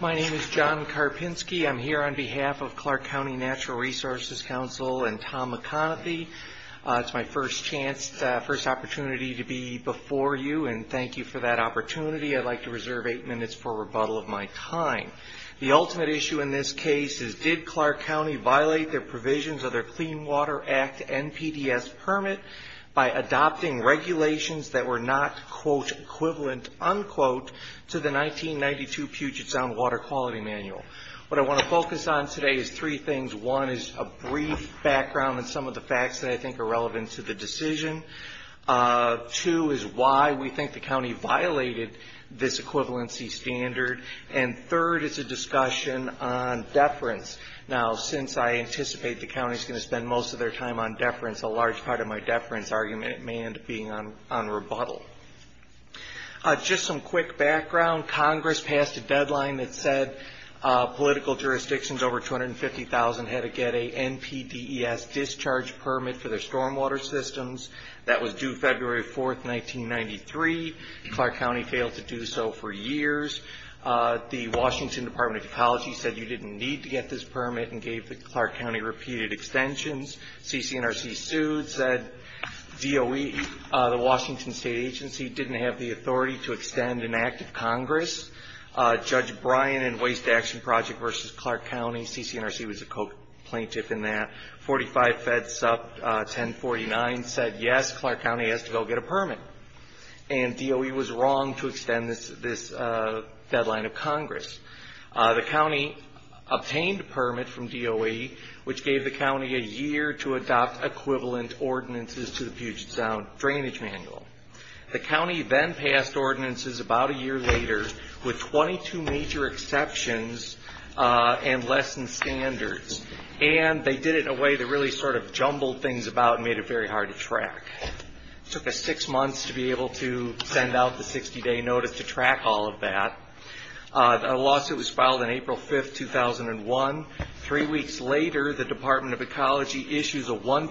My name is John Karpinski. I'm here on behalf of Clark County Natural Resources Council and Tom McConaughey. It's my first opportunity to be before you and thank you for that opportunity. I'd like to reserve eight minutes for rebuttal of my time. The ultimate issue in this case is did Clark County violate the provisions of their Clean Water Act and PDS permit by adopting regulations that were not, quote, equivalent, unquote, to the 1992 Puget Sound Water Quality Manual. What I want to focus on today is three things. One is a brief background and some of the facts that I think are relevant to the decision. Two is why we think the county violated this equivalency standard. And third is a discussion on deference. Now, since I anticipate the county is going to spend most of their time on deference, a large part of my deference argument may end up being on rebuttal. Just some quick background. Congress passed a deadline that said political jurisdictions over 250,000 had to get a NPDES discharge permit for their stormwater systems. That was due February 4th, 1993. Clark County failed to do so for years. The Washington Department of Ecology said you didn't need to get this permit and gave the Clark County repeated extensions. CCNRC sued, said DOE, the Washington State Agency, didn't have the authority to extend an act of Congress. Judge Bryan in Waste Action Project v. Clark County, CCNRC was a co-plaintiff in that, 45 feds up, 1049 said yes, Clark County has to go get a permit. And DOE was wrong to extend this deadline of Congress. The county obtained a permit from DOE which gave the county a year to adopt equivalent ordinances to the Puget Sound Drainage Manual. The county then passed ordinances about a year later with 22 major exceptions and less than standards. And they did it in a way that really sort of jumbled things about and made it very hard to track. It took us six months to be able to send out the 60-day notice to track all of that. The lawsuit was filed on April 5th, 2001. Three weeks later, the Department of Ecology there were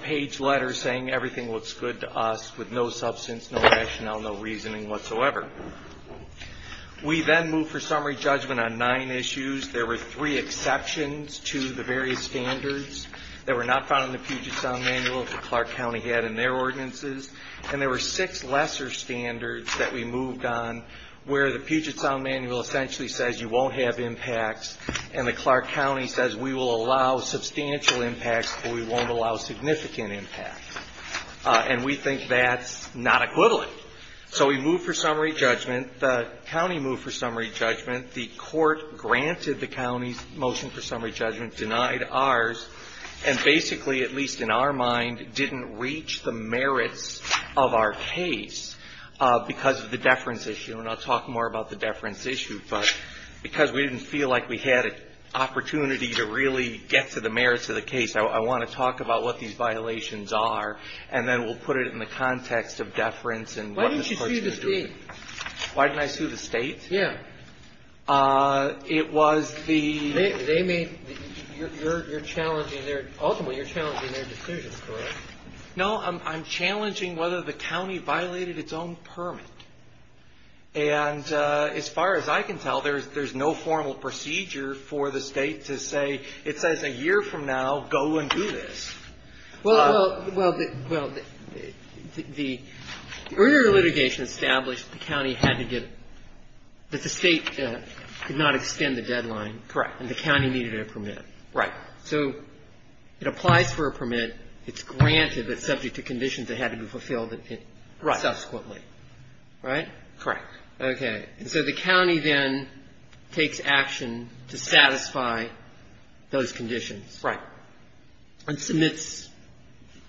three exceptions to the various standards that were not found in the Puget Sound Manual that Clark County had in their ordinances. And there were six lesser standards that we moved on where the Puget Sound Manual essentially says you won't have impacts and the Clark County says we will allow substantial impacts but we won't allow significant impacts. And we think that's not equivalent. So we moved for summary judgment. The county moved for summary judgment. Clark granted the county's motion for summary judgment, denied ours, and basically, at least in our mind, didn't reach the merits of our case because of the deference issue. And I'll talk more about the deference issue, but because we didn't feel like we had an opportunity to really get to the merits of the case, I want to talk about what these violations are, and then we'll put it in the context of deference and what the Court would have to do. Why didn't you sue the State? Why didn't I sue the State? Yeah. It was the ‑‑ They made ‑‑ you're challenging their ‑‑ ultimately you're challenging their decision, correct? No, I'm challenging whether the county violated its own permit. And as far as I can tell, there's no formal procedure for the State to say, it says a year from now, go and do this. Well, the earlier litigation established the county had to get ‑‑ that the State could not extend the deadline. Correct. And the county needed a permit. Right. So it applies for a permit. It's granted, but subject to conditions that had to be fulfilled subsequently. Right. Right? Correct. Okay. And so the county then takes action to satisfy those conditions. Right. And submits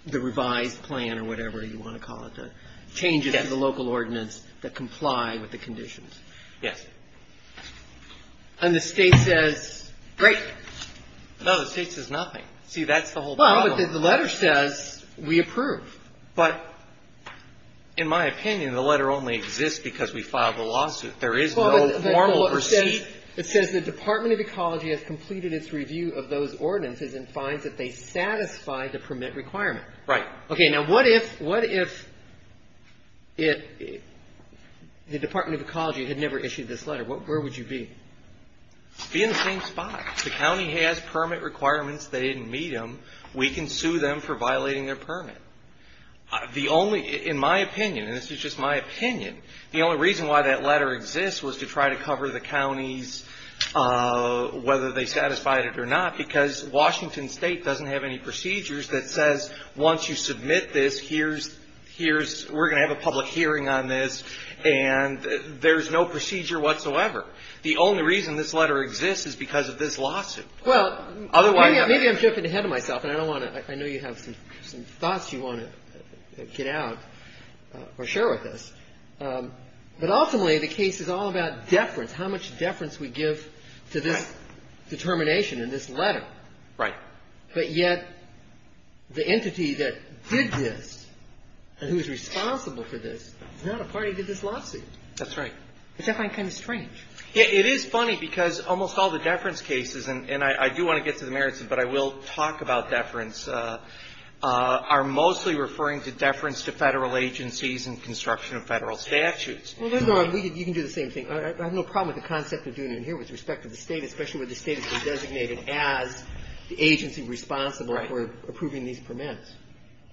the revised plan or whatever you want to call it, the changes to the local ordinance that comply with the conditions. Yes. And the State says, great. No, the State says nothing. See, that's the whole problem. Well, but the letter says we approve. But in my opinion, the letter only exists because we filed the lawsuit. There is no formal procedure. It says the Department of Ecology has completed its review of those ordinances and finds that they satisfy the permit requirement. Right. Okay. Now, what if the Department of Ecology had never issued this letter? Where would you be? Be in the same spot. If the county has permit requirements, they didn't meet them, we can sue them for violating their permit. The only, in my opinion, and this is just my opinion, the only reason why that letter exists was to try to cover the counties, whether they satisfied it or not, because Washington State doesn't have any procedures that says once you submit this, here's, here's, we're going to have a public hearing on this, and there's no procedure whatsoever. The only reason this letter exists is because of this lawsuit. Well, maybe I'm jumping ahead of myself, and I don't want to, I know you have some thoughts you want to get out or share with us. But ultimately, the case is all about deference, how much deference we give to this determination in this letter. Right. But yet the entity that did this and who is responsible for this is not a party to this lawsuit. That's right. It's definitely kind of strange. It is funny because almost all the deference cases, and I do want to get to the merits of it, but I will talk about deference, are mostly referring to deference to Federal agencies and construction of Federal statutes. Well, you can do the same thing. I have no problem with the concept of doing it in here with respect to the State, especially when the State is designated as the agency responsible for approving these permits.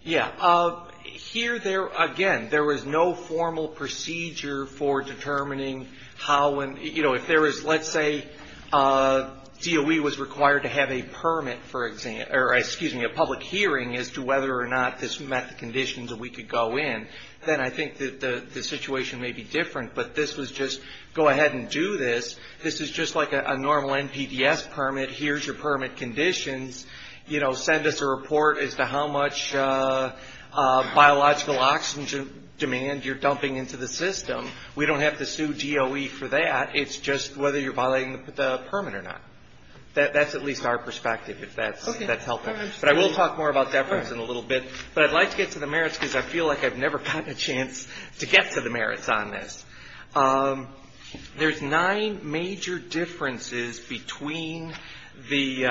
Yeah. Here, again, there was no formal procedure for determining how and, you know, if there was, let's say DOE was required to have a permit, for example, or excuse me, a public hearing as to whether or not this met the conditions that we could go in, then I think that the situation may be different. But this was just go ahead and do this. This is just like a normal NPDES permit. Here's your permit conditions. You know, send us a report as to how much biological oxygen demand you're dumping into the system. We don't have to sue DOE for that. It's just whether you're violating the permit or not. That's at least our perspective, if that's helpful. But I will talk more about deference in a little bit. But I'd like to get to the merits because I feel like I've never gotten a chance to get to the merits on this. There's nine major differences between the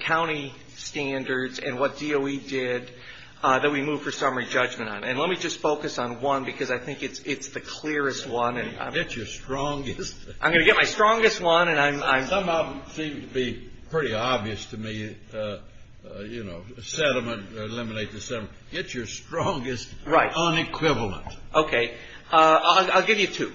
county standards and what DOE did that we moved for summary judgment on. And let me just focus on one because I think it's the clearest one. Get your strongest. I'm going to get my strongest one. Some of them seem to be pretty obvious to me, you know, sediment, eliminate the sediment. Get your strongest unequivalent. Okay. I'll give you two.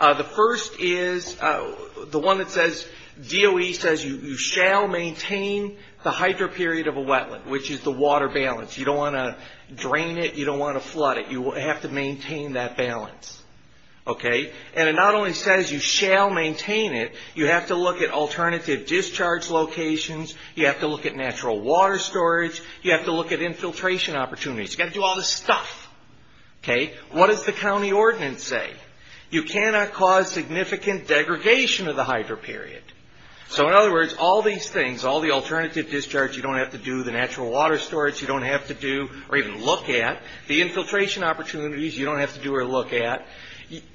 The first is the one that says DOE says you shall maintain the hydroperiod of a wetland, which is the water balance. You don't want to drain it. You don't want to flood it. You have to maintain that balance. Okay. And it not only says you shall maintain it, you have to look at alternative discharge locations. You have to look at natural water storage. You have to look at infiltration opportunities. You've got to do all this stuff. Okay. What does the county ordinance say? You cannot cause significant degradation of the hydroperiod. So, in other words, all these things, all the alternative discharge, you don't have to do the natural water storage. You don't have to do or even look at the infiltration opportunities. You don't have to do or look at.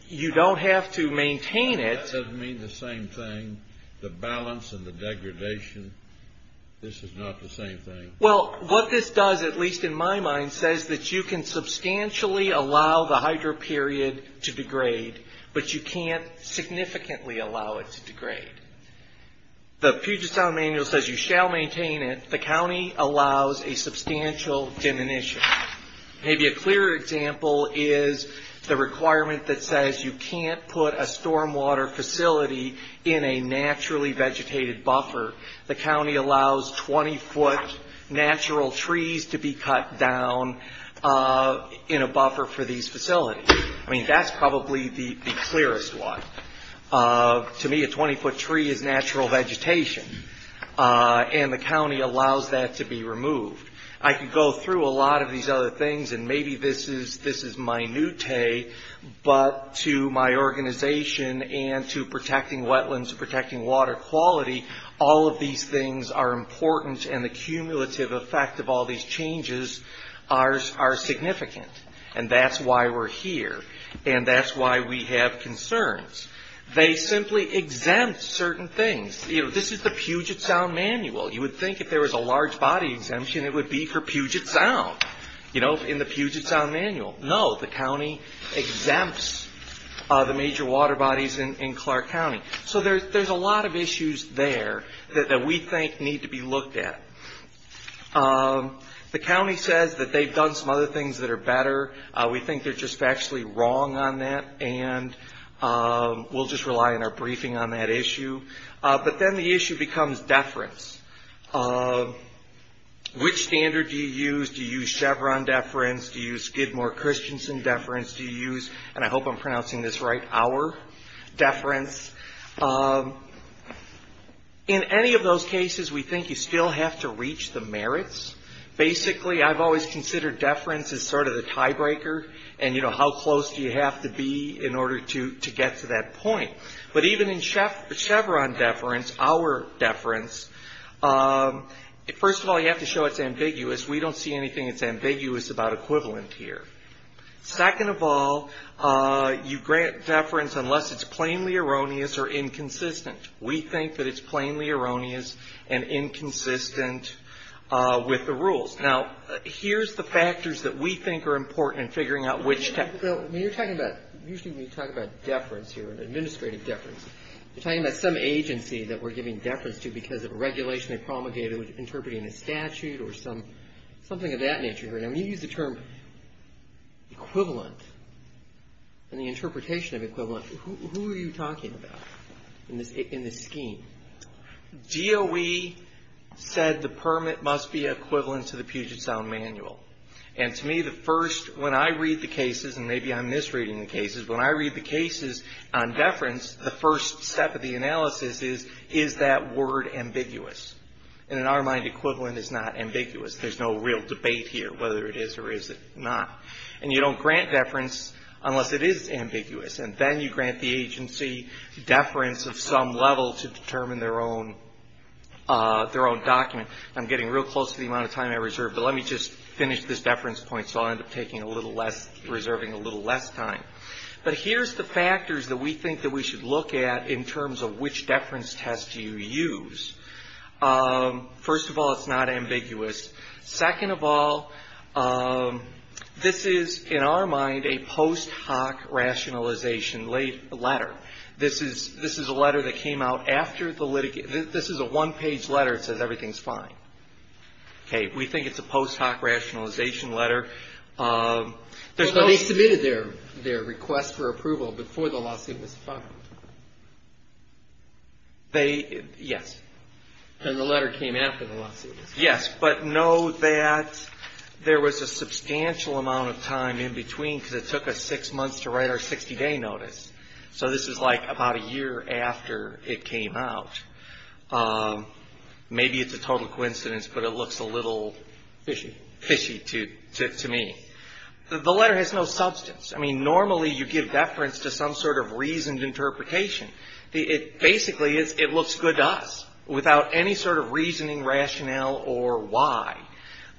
You don't have to maintain it. That doesn't mean the same thing, the balance and the degradation. This is not the same thing. Well, what this does, at least in my mind, says that you can substantially allow the hydroperiod to degrade, but you can't significantly allow it to degrade. The Puget Sound Manual says you shall maintain it. The county allows a substantial diminution. Maybe a clearer example is the requirement that says you can't put a stormwater facility in a naturally vegetated buffer. The county allows 20-foot natural trees to be cut down in a buffer for these facilities. I mean, that's probably the clearest one. To me, a 20-foot tree is natural vegetation, and the county allows that to be removed. I could go through a lot of these other things, and maybe this is minute, but to my organization and to protecting wetlands, protecting water quality, all of these things are important, and the cumulative effect of all these changes are significant. That's why we're here, and that's why we have concerns. They simply exempt certain things. This is the Puget Sound Manual. You would think if there was a large body exemption, it would be for Puget Sound, in the Puget Sound Manual. No, the county exempts the major water bodies in Clark County. So there's a lot of issues there that we think need to be looked at. The county says that they've done some other things that are better. We think they're just factually wrong on that, and we'll just rely on our briefing on that issue. But then the issue becomes deference. Which standard do you use? Do you use Chevron deference? Do you use Gidmore-Christensen deference? Do you use, and I hope I'm pronouncing this right, our deference? In any of those cases, we think you still have to reach the merits. Basically, I've always considered deference as sort of the tiebreaker, and, you know, how close do you have to be in order to get to that point. But even in Chevron deference, our deference, first of all, you have to show it's ambiguous. We don't see anything that's ambiguous about equivalent here. Second of all, you grant deference unless it's plainly erroneous or inconsistent. We think that it's plainly erroneous and inconsistent with the rules. Now, here's the factors that we think are important in figuring out which to. Bill, when you're talking about, usually when you talk about deference here, administrative deference, you're talking about some agency that we're giving deference to because of a regulation they promulgated interpreting a statute or something of that nature. Now, when you use the term equivalent and the interpretation of equivalent, who are you talking about in this scheme? DOE said the permit must be equivalent to the Puget Sound Manual. And to me, the first, when I read the cases, and maybe I'm misreading the cases, when I read the cases on deference, the first step of the analysis is, is that word ambiguous? And in our mind, equivalent is not ambiguous. There's no real debate here whether it is or is it not. And you don't grant deference unless it is ambiguous. And then you grant the agency deference of some level to determine their own document. I'm getting real close to the amount of time I reserved, but let me just finish this deference point so I'll end up taking a little less, reserving a little less time. But here's the factors that we think that we should look at in terms of which deference test do you use. First of all, it's not ambiguous. Second of all, this is, in our mind, a post hoc rationalization letter. This is a letter that came out after the litigation. This is a one-page letter that says everything's fine. Okay. We think it's a post hoc rationalization letter. They submitted their request for approval before the lawsuit was filed. They, yes. And the letter came after the lawsuit was filed. Yes, but know that there was a substantial amount of time in between because it took us six months to write our 60-day notice. So this is like about a year after it came out. Maybe it's a total coincidence, but it looks a little fishy to me. The letter has no substance. I mean, normally you give deference to some sort of reasoned interpretation. Basically, it looks good to us without any sort of reasoning, rationale, or why.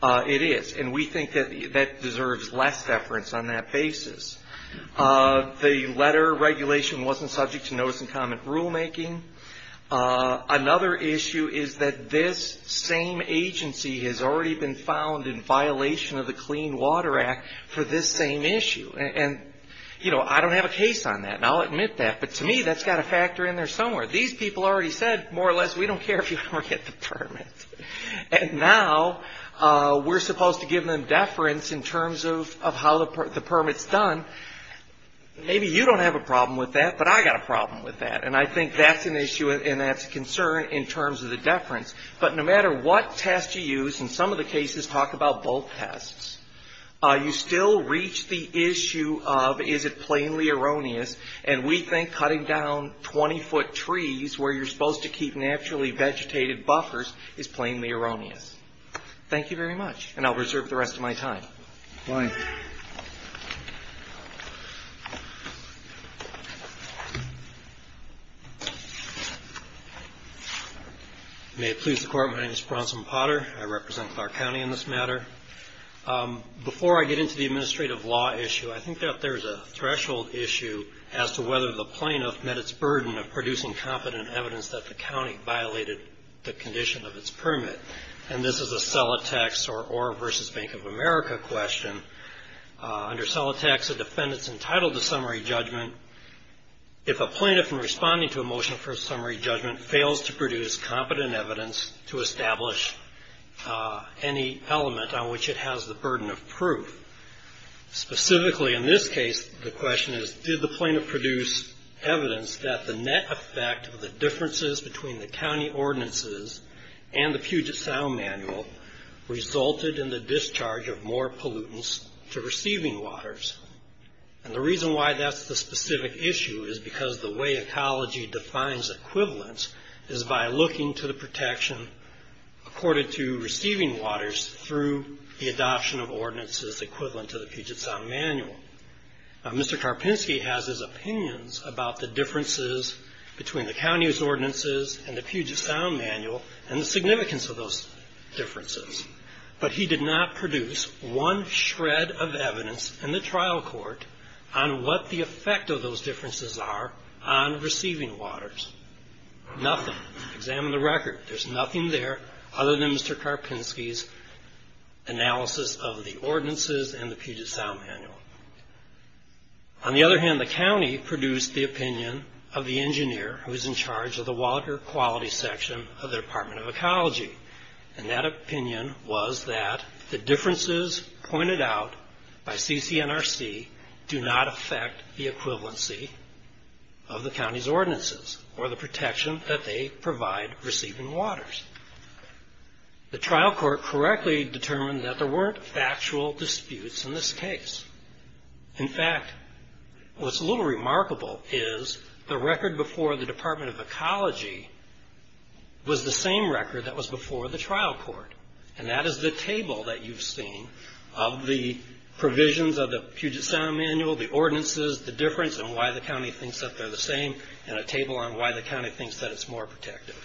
It is, and we think that that deserves less deference on that basis. The letter regulation wasn't subject to notice and comment rulemaking. Another issue is that this same agency has already been found in violation of the Clean Water Act for this same issue. And, you know, I don't have a case on that, and I'll admit that. But to me, that's got to factor in there somewhere. These people already said, more or less, we don't care if you ever get the permit. And now we're supposed to give them deference in terms of how the permit's done. Maybe you don't have a problem with that, but I got a problem with that. And I think that's an issue and that's a concern in terms of the deference. But no matter what test you use, and some of the cases talk about both tests, you still reach the issue of is it plainly erroneous. And we think cutting down 20-foot trees where you're supposed to keep naturally vegetated buffers is plainly erroneous. Thank you very much, and I'll reserve the rest of my time. Fine. May it please the Court, my name is Bronson Potter. I represent Clark County in this matter. Before I get into the administrative law issue, I think that there's a threshold issue as to whether the plaintiff met its burden of producing competent evidence that the county violated the condition of its permit. And this is a Celotex or Orr v. Bank of America question. Under Celotex, a defendant's entitled to summary judgment if a plaintiff, in responding to a motion for a summary judgment, fails to produce competent evidence to establish any element on which it has the burden of proof. Specifically in this case, the question is, did the plaintiff produce evidence that the net effect of the differences between the county ordinances and the Puget Sound Manual resulted in the discharge of more pollutants to receiving waters? And the reason why that's the specific issue is because the way ecology defines equivalence is by looking to the protection accorded to receiving waters through the adoption of ordinances equivalent to the Puget Sound Manual. Mr. Karpinski has his opinions about the differences between the county's ordinances and the Puget Sound Manual and the significance of those differences. But he did not produce one shred of evidence in the trial court on what the effect of those differences are on receiving waters. Nothing. Examine the record. There's nothing there other than Mr. Karpinski's analysis of the ordinances and the Puget Sound Manual. On the other hand, the county produced the opinion of the engineer who is in charge of the water quality section of the Department of Ecology. And that opinion was that the differences pointed out by CCNRC do not affect the equivalency of the county's ordinances or the protection that they provide receiving waters. The trial court correctly determined that there weren't factual disputes in this case. In fact, what's a little remarkable is the record before the Department of Ecology was the same record that was before the trial court. And that is the table that you've seen of the provisions of the Puget Sound Manual, the ordinances, the difference, and why the county thinks that they're the same, and a table on why the county thinks that it's more protective.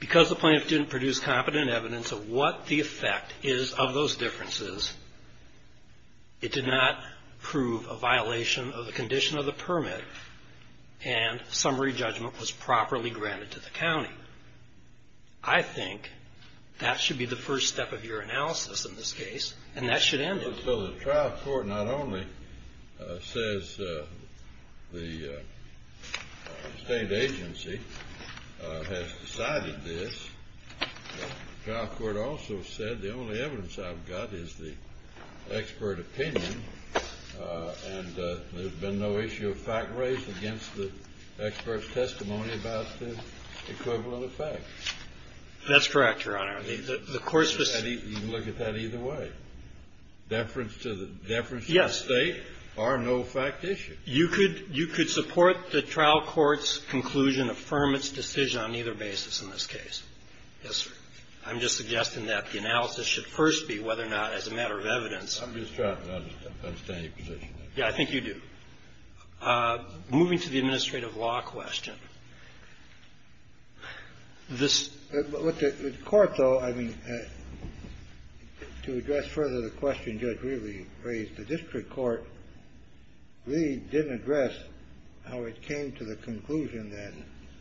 Because the plaintiff didn't produce competent evidence of what the effect is of those differences, it did not prove a violation of the condition of the permit, and summary judgment was properly granted to the county. I think that should be the first step of your analysis in this case, and that should end it. So the trial court not only says the state agency has decided this, but the trial court also said the only evidence I've got is the expert opinion, and there's been no issue of fact raised against the expert's testimony about the equivalent effect. That's correct, Your Honor. You can look at that either way. Deference to the state are no fact issues. You could support the trial court's conclusion, affirm its decision on either basis in this case. Yes, sir. I'm just suggesting that the analysis should first be whether or not as a matter of evidence. I'm just trying to understand your position. Yeah, I think you do. Moving to the administrative law question. The court, though, I mean, to address further the question Judge Reed raised, the district court, Reed, didn't address how it came to the conclusion that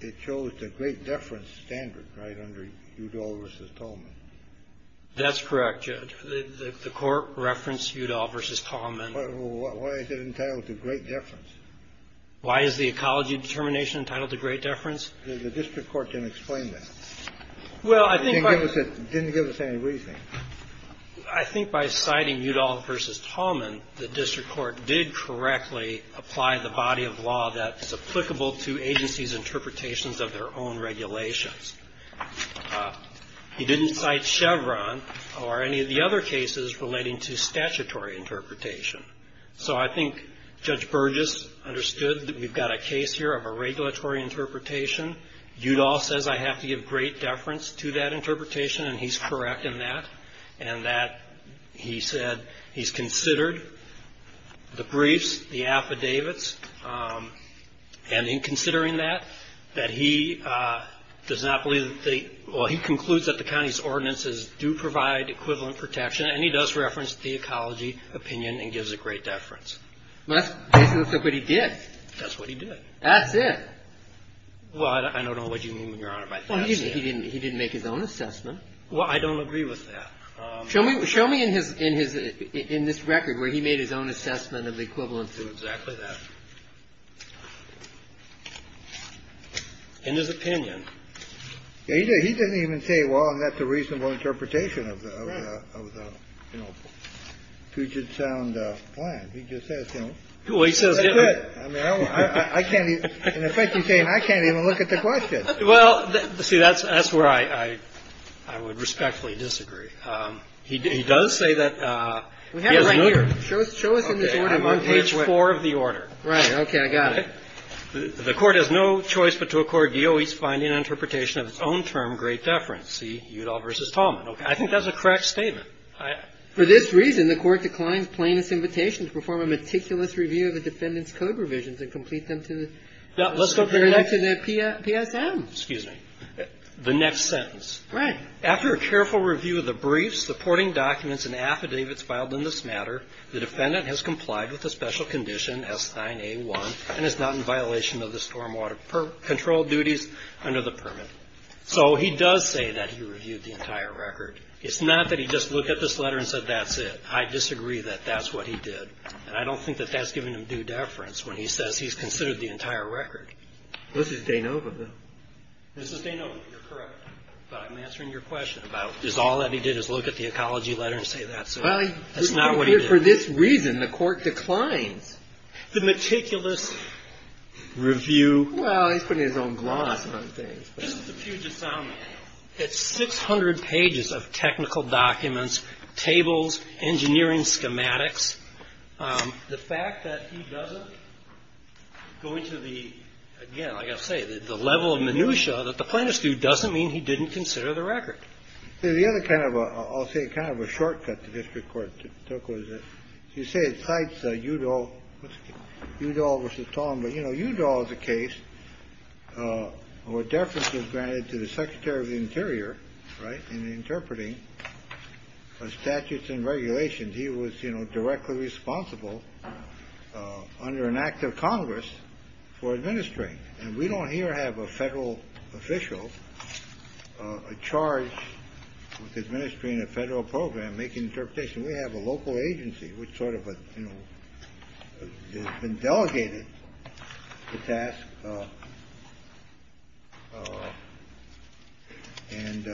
it shows the great deference standard right under Udall v. Tolman. That's correct, Judge. The court referenced Udall v. Tolman. Why is it entitled to great deference? Why is the ecology determination entitled to great deference? The district court didn't explain that. Well, I think by the court didn't give us any reasoning. I think by citing Udall v. Tolman, the district court did correctly apply the body of law that's applicable to agencies' interpretations of their own regulations. He didn't cite Chevron or any of the other cases relating to statutory interpretation. So I think Judge Burgess understood that we've got a case here of a regulatory interpretation. Udall says I have to give great deference to that interpretation, and he's correct in that, and that he said he's considered the briefs, the affidavits, and in considering that, that he does not believe that they – well, he concludes that the county's ordinances do provide equivalent protection, and he does reference the ecology opinion and gives a great deference. Well, that's basically what he did. That's what he did. That's it. Well, I don't know what you mean, Your Honor, by that. Well, he didn't make his own assessment. Well, I don't agree with that. Show me in his – in this record where he made his own assessment of equivalency. It's exactly that. In his opinion. He didn't even say, well, that's a reasonable interpretation of the Puget Sound plan. He just says, you know, that's it. I mean, I can't even – in effect, he's saying I can't even look at the question. Well, see, that's where I would respectfully disagree. He does say that he has no – We have it right here. Show us in this order. I'm on page 4 of the order. Right. I got it. The Court has no choice but to accord the OE's finding and interpretation of its own term, great deference. See, Udall v. Tallman. I think that's a correct statement. For this reason, the Court declines plaintiff's invitation to perform a meticulous review of the defendant's code revisions and complete them to the PSM. Excuse me. The next sentence. Right. After a careful review of the briefs, the porting documents, and affidavits filed in this matter, the defendant has complied with the special condition S-9A-1 and is not in violation of the stormwater control duties under the permit. So he does say that he reviewed the entire record. It's not that he just looked at this letter and said that's it. I disagree that that's what he did. And I don't think that that's giving him due deference when he says he's considered the entire record. This is De Nova, though. This is De Nova. You're correct. But I'm answering your question about is all that he did is look at the ecology letter and say that's it. That's not what he did. But for this reason, the court declines. The meticulous review. Well, he's putting his own gloss on things. This is the Puget Sound man. It's 600 pages of technical documents, tables, engineering schematics. The fact that he doesn't go into the, again, like I say, the level of minutia that the plaintiffs do doesn't mean he didn't consider the record. The other kind of, I'll say, kind of a shortcut to district court. You say it cites Udall. Udall v. Tong. But, you know, Udall is a case where deference is granted to the secretary of the interior, right, in interpreting statutes and regulations. He was, you know, directly responsible under an act of Congress for administering. And we don't here have a federal official charged with administering a federal program, making interpretation. We have a local agency which sort of, you know, has been delegated the task. And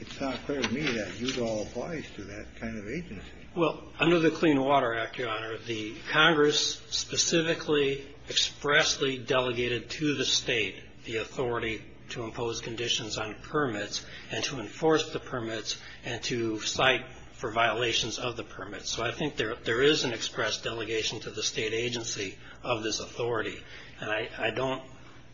it's not clear to me that Udall applies to that kind of agency. Well, under the Clean Water Act, Your Honor, the Congress specifically expressly delegated to the state the authority to impose conditions on permits and to enforce the permits and to cite for violations of the permits. So I think there is an express delegation to the state agency of this authority. And I don't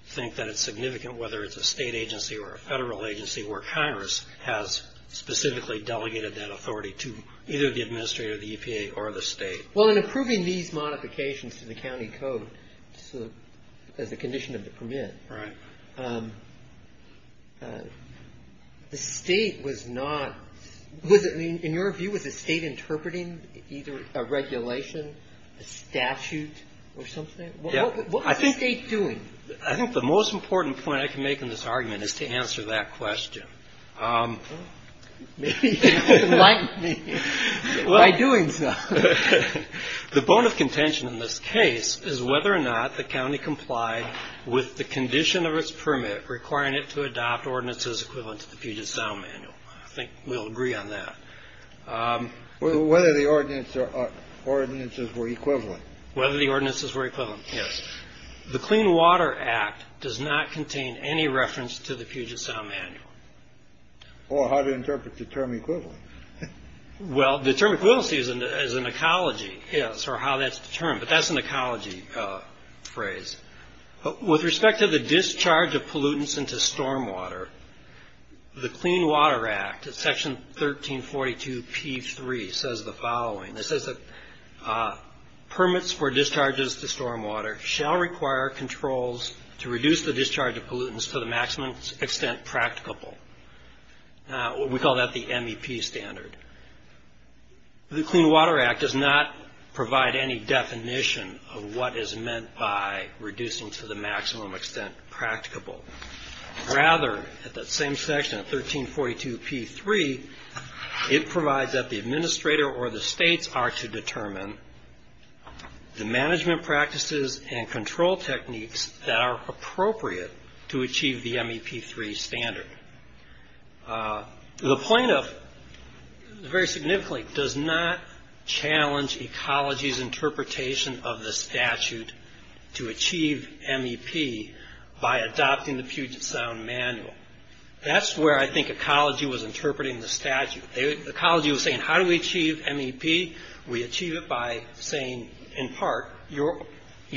think that it's significant whether it's a state agency or a federal agency where Congress has specifically delegated that authority to either the administrator of the EPA or the state. Well, in approving these modifications to the county code as a condition of the permit, the state was not, in your view, was the state interpreting either a regulation, a statute or something? What was the state doing? I think the most important point I can make in this argument is to answer that question. Maybe you can enlighten me by doing so. The bone of contention in this case is whether or not the county complied with the condition of its permit requiring it to adopt ordinances equivalent to the Puget Sound Manual. I think we'll agree on that. Whether the ordinances were equivalent. Whether the ordinances were equivalent, yes. The Clean Water Act does not contain any reference to the Puget Sound Manual. Or how to interpret the term equivalent. Well, the term equivalent is an ecology, yes, or how that's determined. But that's an ecology phrase. With respect to the discharge of pollutants into stormwater, the Clean Water Act, Section 1342p3, says the following. It says that permits for discharges to stormwater shall require controls to reduce the discharge of pollutants to the maximum extent practicable. We call that the MEP standard. The Clean Water Act does not provide any definition of what is meant by reducing to the maximum extent practicable. Rather, at that same section of 1342p3, it provides that the administrator or the states are to determine the management practices and control techniques that are appropriate to achieve the MEP3 standard. The plaintiff, very significantly, does not challenge ecology's interpretation of the statute to achieve MEP by adopting the Puget Sound Manual. That's where I think ecology was interpreting the statute. Ecology was saying, how do we achieve MEP? We achieve it by saying, in part, you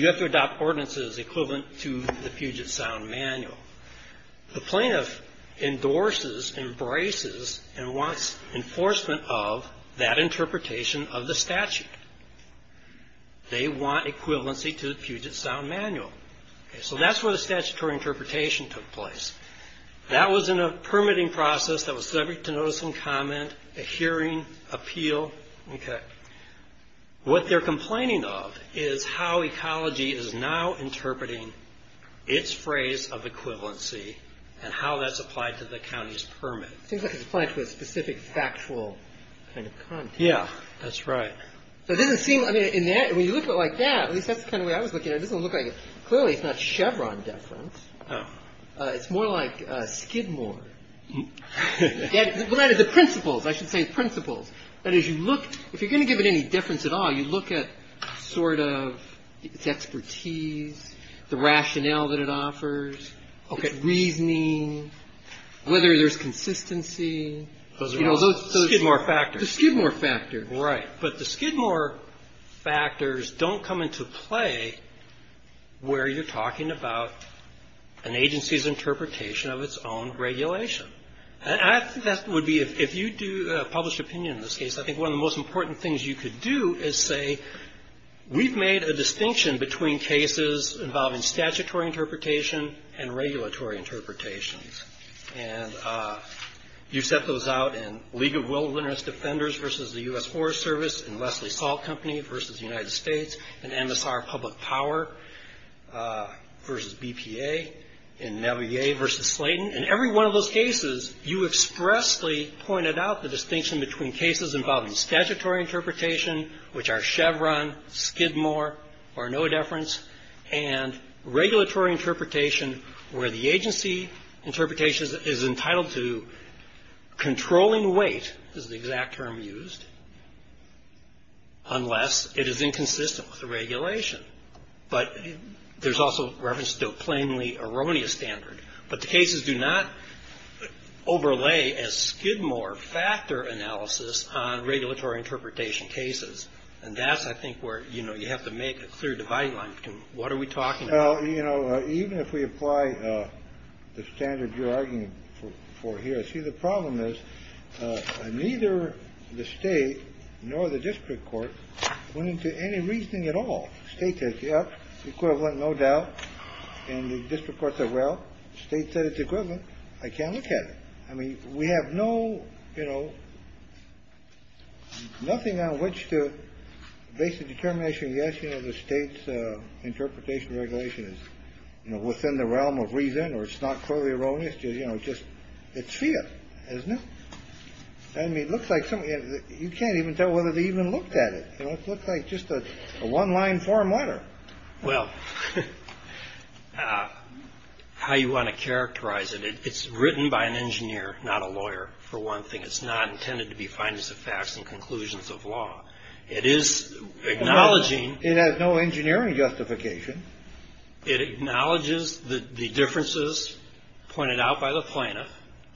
have to adopt ordinances equivalent to the Puget Sound Manual. The plaintiff endorses, embraces, and wants enforcement of that interpretation of the statute. They want equivalency to the Puget Sound Manual. So that's where the statutory interpretation took place. That was in a permitting process that was subject to notice and comment, a hearing, appeal. What they're complaining of is how ecology is now interpreting its phrase of equivalency and how that's applied to the county's permit. It seems like it's applied to a specific factual kind of content. Yeah, that's right. When you look at it like that, at least that's the kind of way I was looking at it. Clearly, it's not Chevron deference. It's more like Skidmore. The principles, I should say, principles. If you're going to give it any deference at all, you look at sort of its expertise, the rationale that it offers, its reasoning, whether there's consistency. Skidmore factors. The Skidmore factors. Right. But the Skidmore factors don't come into play where you're talking about an agency's interpretation of its own regulation. And I think that would be, if you do a published opinion in this case, I think one of the most important things you could do is say, we've made a distinction between cases involving statutory interpretation and regulatory interpretations. And you set those out in League of Wilderness Defenders versus the U.S. Forest Service, in Leslie Salt Company versus the United States, in MSR Public Power versus BPA, in Navier versus Slayton. In every one of those cases, you expressly pointed out the distinction between cases involving statutory interpretation, which are Chevron, Skidmore, or no deference, and regulatory interpretation where the agency interpretation is entitled to controlling weight, is the exact term used, unless it is inconsistent with the regulation. But there's also reference to a plainly erroneous standard. But the cases do not overlay as Skidmore factor analysis on regulatory interpretation cases. And that's, I think, where, you know, you have to make a clear dividing line. What are we talking about? Well, you know, even if we apply the standard you're arguing for here, see, the problem is neither the state nor the district court went into any reasoning at all. The state says, yep, equivalent, no doubt. And the district court said, well, the state said it's equivalent. I can't look at it. I mean, we have no, you know, nothing on which to base a determination. Yes. You know, the state's interpretation regulation is within the realm of reason or it's not clearly erroneous. Just it's fear, isn't it? I mean, it looks like something you can't even tell whether they even looked at it. Looks like just a one line form letter. Well, how you want to characterize it. It's written by an engineer, not a lawyer, for one thing. It's not intended to be findings of facts and conclusions of law. It is acknowledging. It has no engineering justification. It acknowledges the differences pointed out by the plaintiff.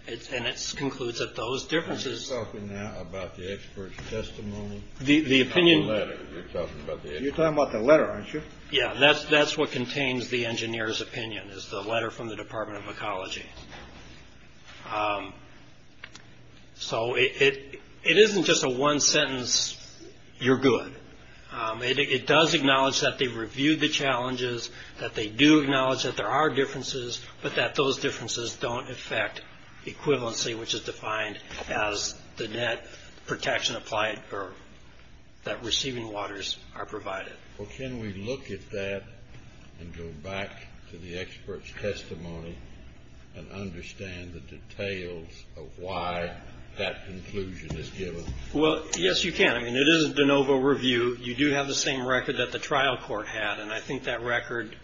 And it concludes that those differences. Are you talking now about the expert's testimony? The opinion. You're talking about the letter, aren't you? Yeah, that's what contains the engineer's opinion is the letter from the Department of Ecology. So it isn't just a one sentence. You're good. It does acknowledge that they reviewed the challenges, that they do acknowledge that there are differences, but that those differences don't affect equivalency, which is defined as the net protection applied or that receiving waters are provided. Well, can we look at that and go back to the expert's testimony and understand the details of why that conclusion is given? Well, yes, you can. I mean, it is a de novo review. You do have the same record that the trial court had, and I think that record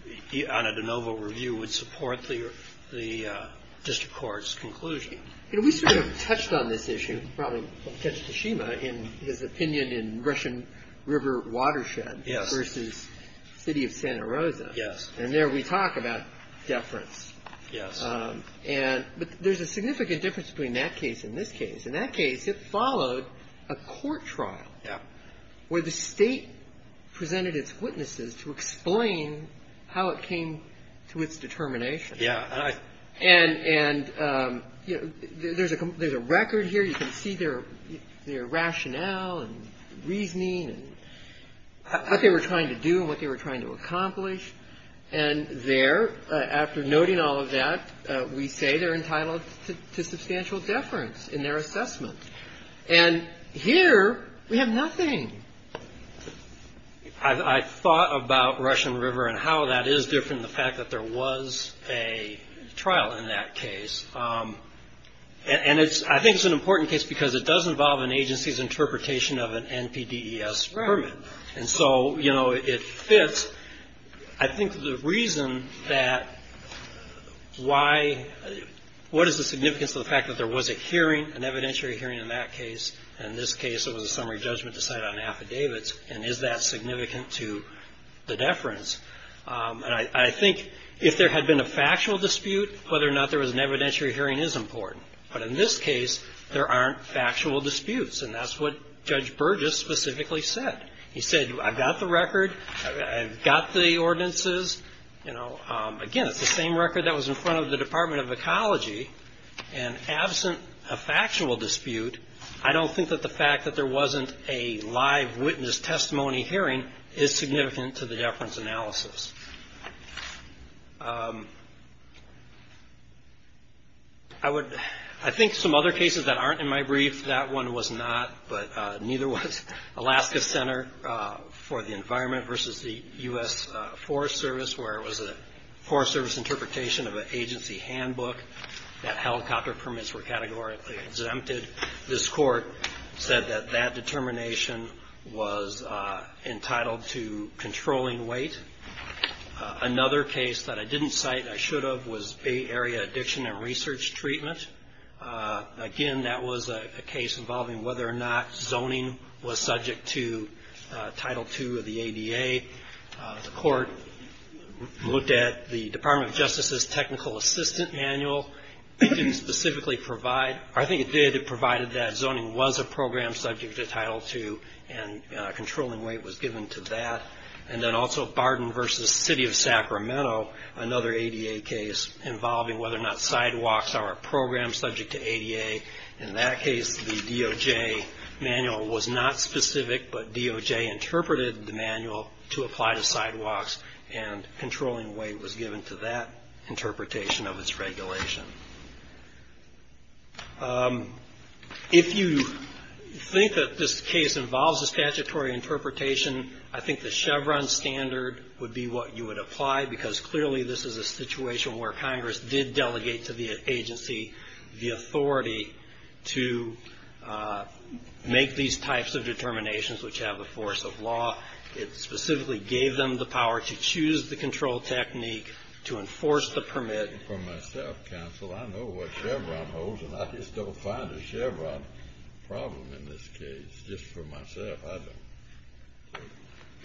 on a de novo review would support the district court's conclusion. We sort of touched on this issue, probably touched Tashima, in his opinion in Russian River Watershed versus City of Santa Rosa. Yes. And there we talk about deference. Yes. But there's a significant difference between that case and this case. In that case, it followed a court trial where the state presented its witnesses to explain how it came to its determination. Yes. And, you know, there's a record here. You can see their rationale and reasoning and what they were trying to do and what they were trying to accomplish. And there, after noting all of that, we say they're entitled to substantial deference in their assessment. And here we have nothing. I thought about Russian River and how that is different than the fact that there was a trial in that case. And I think it's an important case because it does involve an agency's interpretation of an NPDES permit. And so, you know, it fits. I think the reason that why – what is the significance of the fact that there was a hearing, an evidentiary hearing in that case, and in this case it was a summary judgment to cite on affidavits, and is that significant to the deference? And I think if there had been a factual dispute, whether or not there was an evidentiary hearing is important. But in this case, there aren't factual disputes. And that's what Judge Burgess specifically said. He said, I've got the record. I've got the ordinances. Again, it's the same record that was in front of the Department of Ecology. And absent a factual dispute, I don't think that the fact that there wasn't a live witness testimony hearing is significant to the deference analysis. I think some other cases that aren't in my brief, that one was not, but neither was Alaska Center for the Environment versus the U.S. Forest Service, where it was a Forest Service interpretation of an agency handbook that helicopter permits were categorically exempted. This court said that that determination was entitled to controlling weight. Another case that I didn't cite, I should have, was Bay Area Addiction and Research Treatment. Again, that was a case involving whether or not zoning was subject to Title II of the ADA. The court looked at the Department of Justice's technical assistant manual. It didn't specifically provide, or I think it did, it provided that zoning was a program subject to Title II and controlling weight was given to that. And then also Barden versus City of Sacramento, another ADA case, involving whether or not sidewalks are a program subject to ADA. In that case, the DOJ manual was not specific, but DOJ interpreted the manual to apply to sidewalks, and controlling weight was given to that interpretation of its regulation. If you think that this case involves a statutory interpretation, I think the Chevron standard would be what you would apply, because clearly this is a situation where Congress did delegate to the agency the authority to make these types of determinations which have the force of law. It specifically gave them the power to choose the control technique, to enforce the permit. For myself, counsel, I know what Chevron holds, and I just don't find a Chevron problem in this case, just for myself.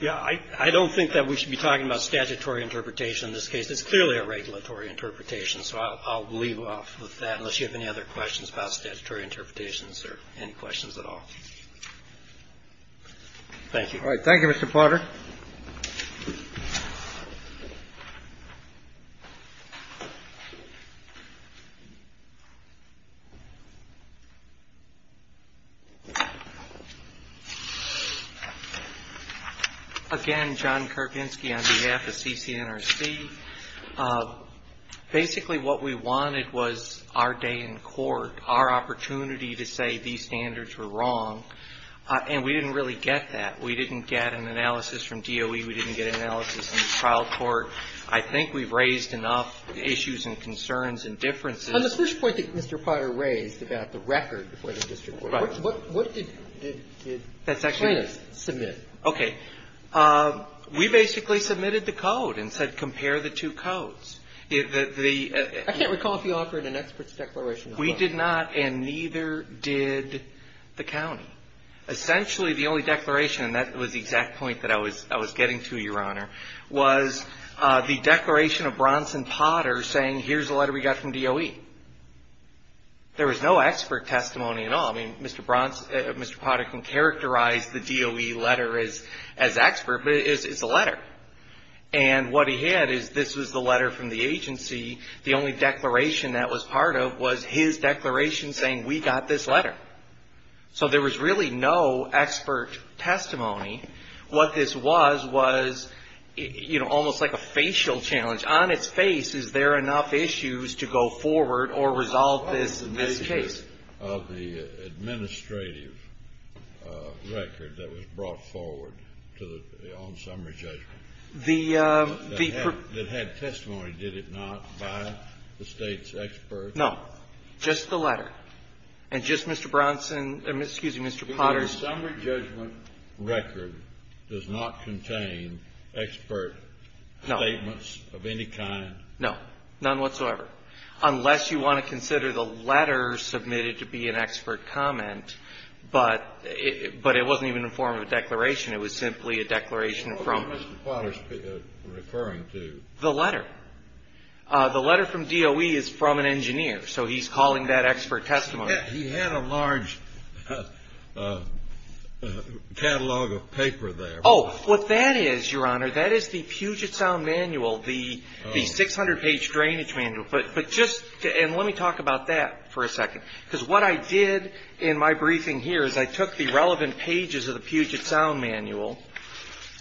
Yeah. I don't think that we should be talking about statutory interpretation in this case. It's clearly a regulatory interpretation, so I'll leave off with that, unless you have any other questions about statutory interpretations or any questions at all. Thank you. All right. Thank you, Mr. Potter. Again, John Karpinski on behalf of CCNRC. Basically, what we wanted was our day in court, our opportunity to say these standards were wrong, and we didn't really get that. We didn't get an analysis from DOE. We didn't get an analysis in the trial court. I think we've raised enough issues and concerns and differences. On the first point that Mr. Potter raised about the record for the district court, what did the plaintiffs submit? Okay. We basically submitted the code and said, compare the two codes. I can't recall if you offered an expert's declaration or not. We did not, and neither did the county. Essentially, the only declaration, and that was the exact point that I was getting to, Your Honor, was the declaration of Bronson Potter saying, here's the letter we got from DOE. There was no expert testimony at all. I mean, Mr. Bronson, Mr. Potter can characterize the DOE letter as expert, but it's a letter. And what he had is this was the letter from the agency. The only declaration that was part of was his declaration saying, we got this letter. So there was really no expert testimony. What this was was, you know, almost like a facial challenge. On its face, is there enough issues to go forward or resolve this case? What was the nature of the administrative record that was brought forward on summary judgment? That had testimony, did it not, by the State's expert? No. Just the letter. And just Mr. Bronson or, excuse me, Mr. Potter. The summary judgment record does not contain expert statements of any kind? No. None whatsoever. Unless you want to consider the letter submitted to be an expert comment, but it wasn't even a form of a declaration. It was simply a declaration from the agency. What was Mr. Potter referring to? The letter. The letter from DOE is from an engineer. So he's calling that expert testimony. He had a large catalog of paper there. Oh, what that is, Your Honor, that is the Puget Sound Manual, the 600-page drainage manual. But just, and let me talk about that for a second. Because what I did in my briefing here is I took the relevant pages of the Puget Sound Manual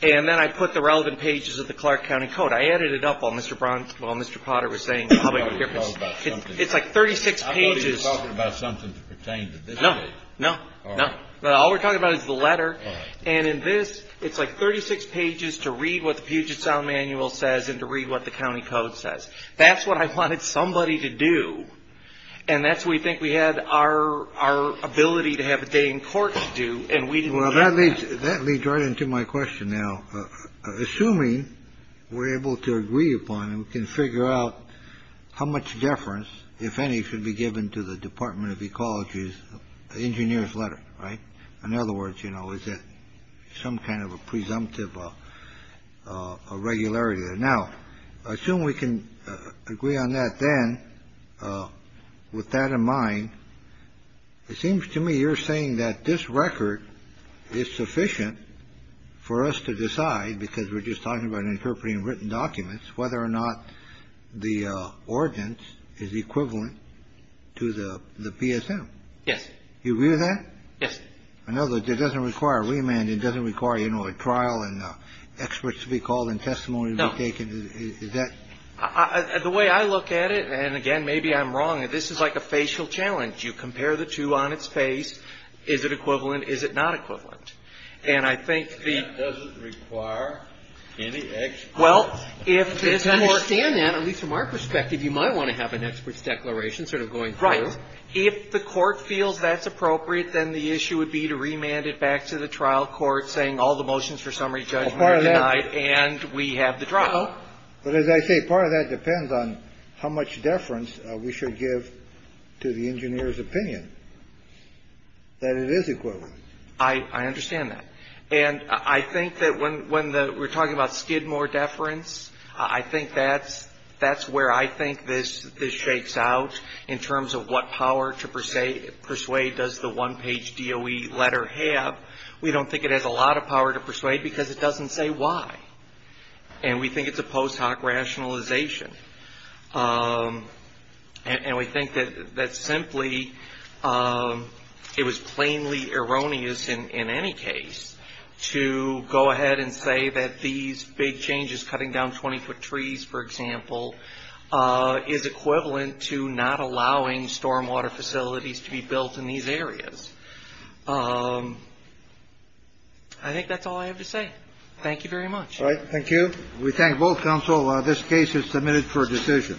and then I put the relevant pages of the Clark County Code. I added it up while Mr. Bronson, while Mr. Potter was saying. I thought you were talking about something. It's like 36 pages. I thought you were talking about something that pertained to this case. No, no, no. All we're talking about is the letter. All right. And in this, it's like 36 pages to read what the Puget Sound Manual says and to read what the county code says. That's what I wanted somebody to do. And that's what we think we had our ability to have a day in court to do, and we didn't have that. Well, that leads right into my question now. Assuming we're able to agree upon and can figure out how much deference, if any, should be given to the Department of Ecology's engineer's letter. Right. In other words, you know, is it some kind of a presumptive regularity? Now, I assume we can agree on that then. With that in mind, it seems to me you're saying that this record is sufficient for us to decide, because we're just talking about interpreting written documents, whether or not the ordinance is equivalent to the PSM. Yes. You agree with that? Yes. I know that it doesn't require a remand. It doesn't require, you know, a trial and experts to be called and testimony to be taken. Is that? The way I look at it, and again, maybe I'm wrong, this is like a facial challenge. You compare the two on its face. Is it equivalent? Is it not equivalent? And I think the ---- It doesn't require any experts. Well, if the court ---- To understand that, at least from our perspective, you might want to have an expert's declaration sort of going through. Right. If the court feels that's appropriate, then the issue would be to remand it back to the trial court saying all the motions for summary judgment are denied and we have the trial. But as I say, part of that depends on how much deference we should give to the engineer's opinion that it is equivalent. I understand that. And I think that when we're talking about Skidmore deference, I think that's where I think this shakes out in terms of what power to persuade does the one-page DOE letter have. We don't think it has a lot of power to persuade because it doesn't say why. And we think it's a post hoc rationalization. And we think that simply it was plainly erroneous in any case to go ahead and say that these big changes, cutting down 20 foot trees, for example, is equivalent to not allowing stormwater facilities to be built in these areas. I think that's all I have to say. Thank you very much. All right. Thank you. We thank both counsel. This case is submitted for decision.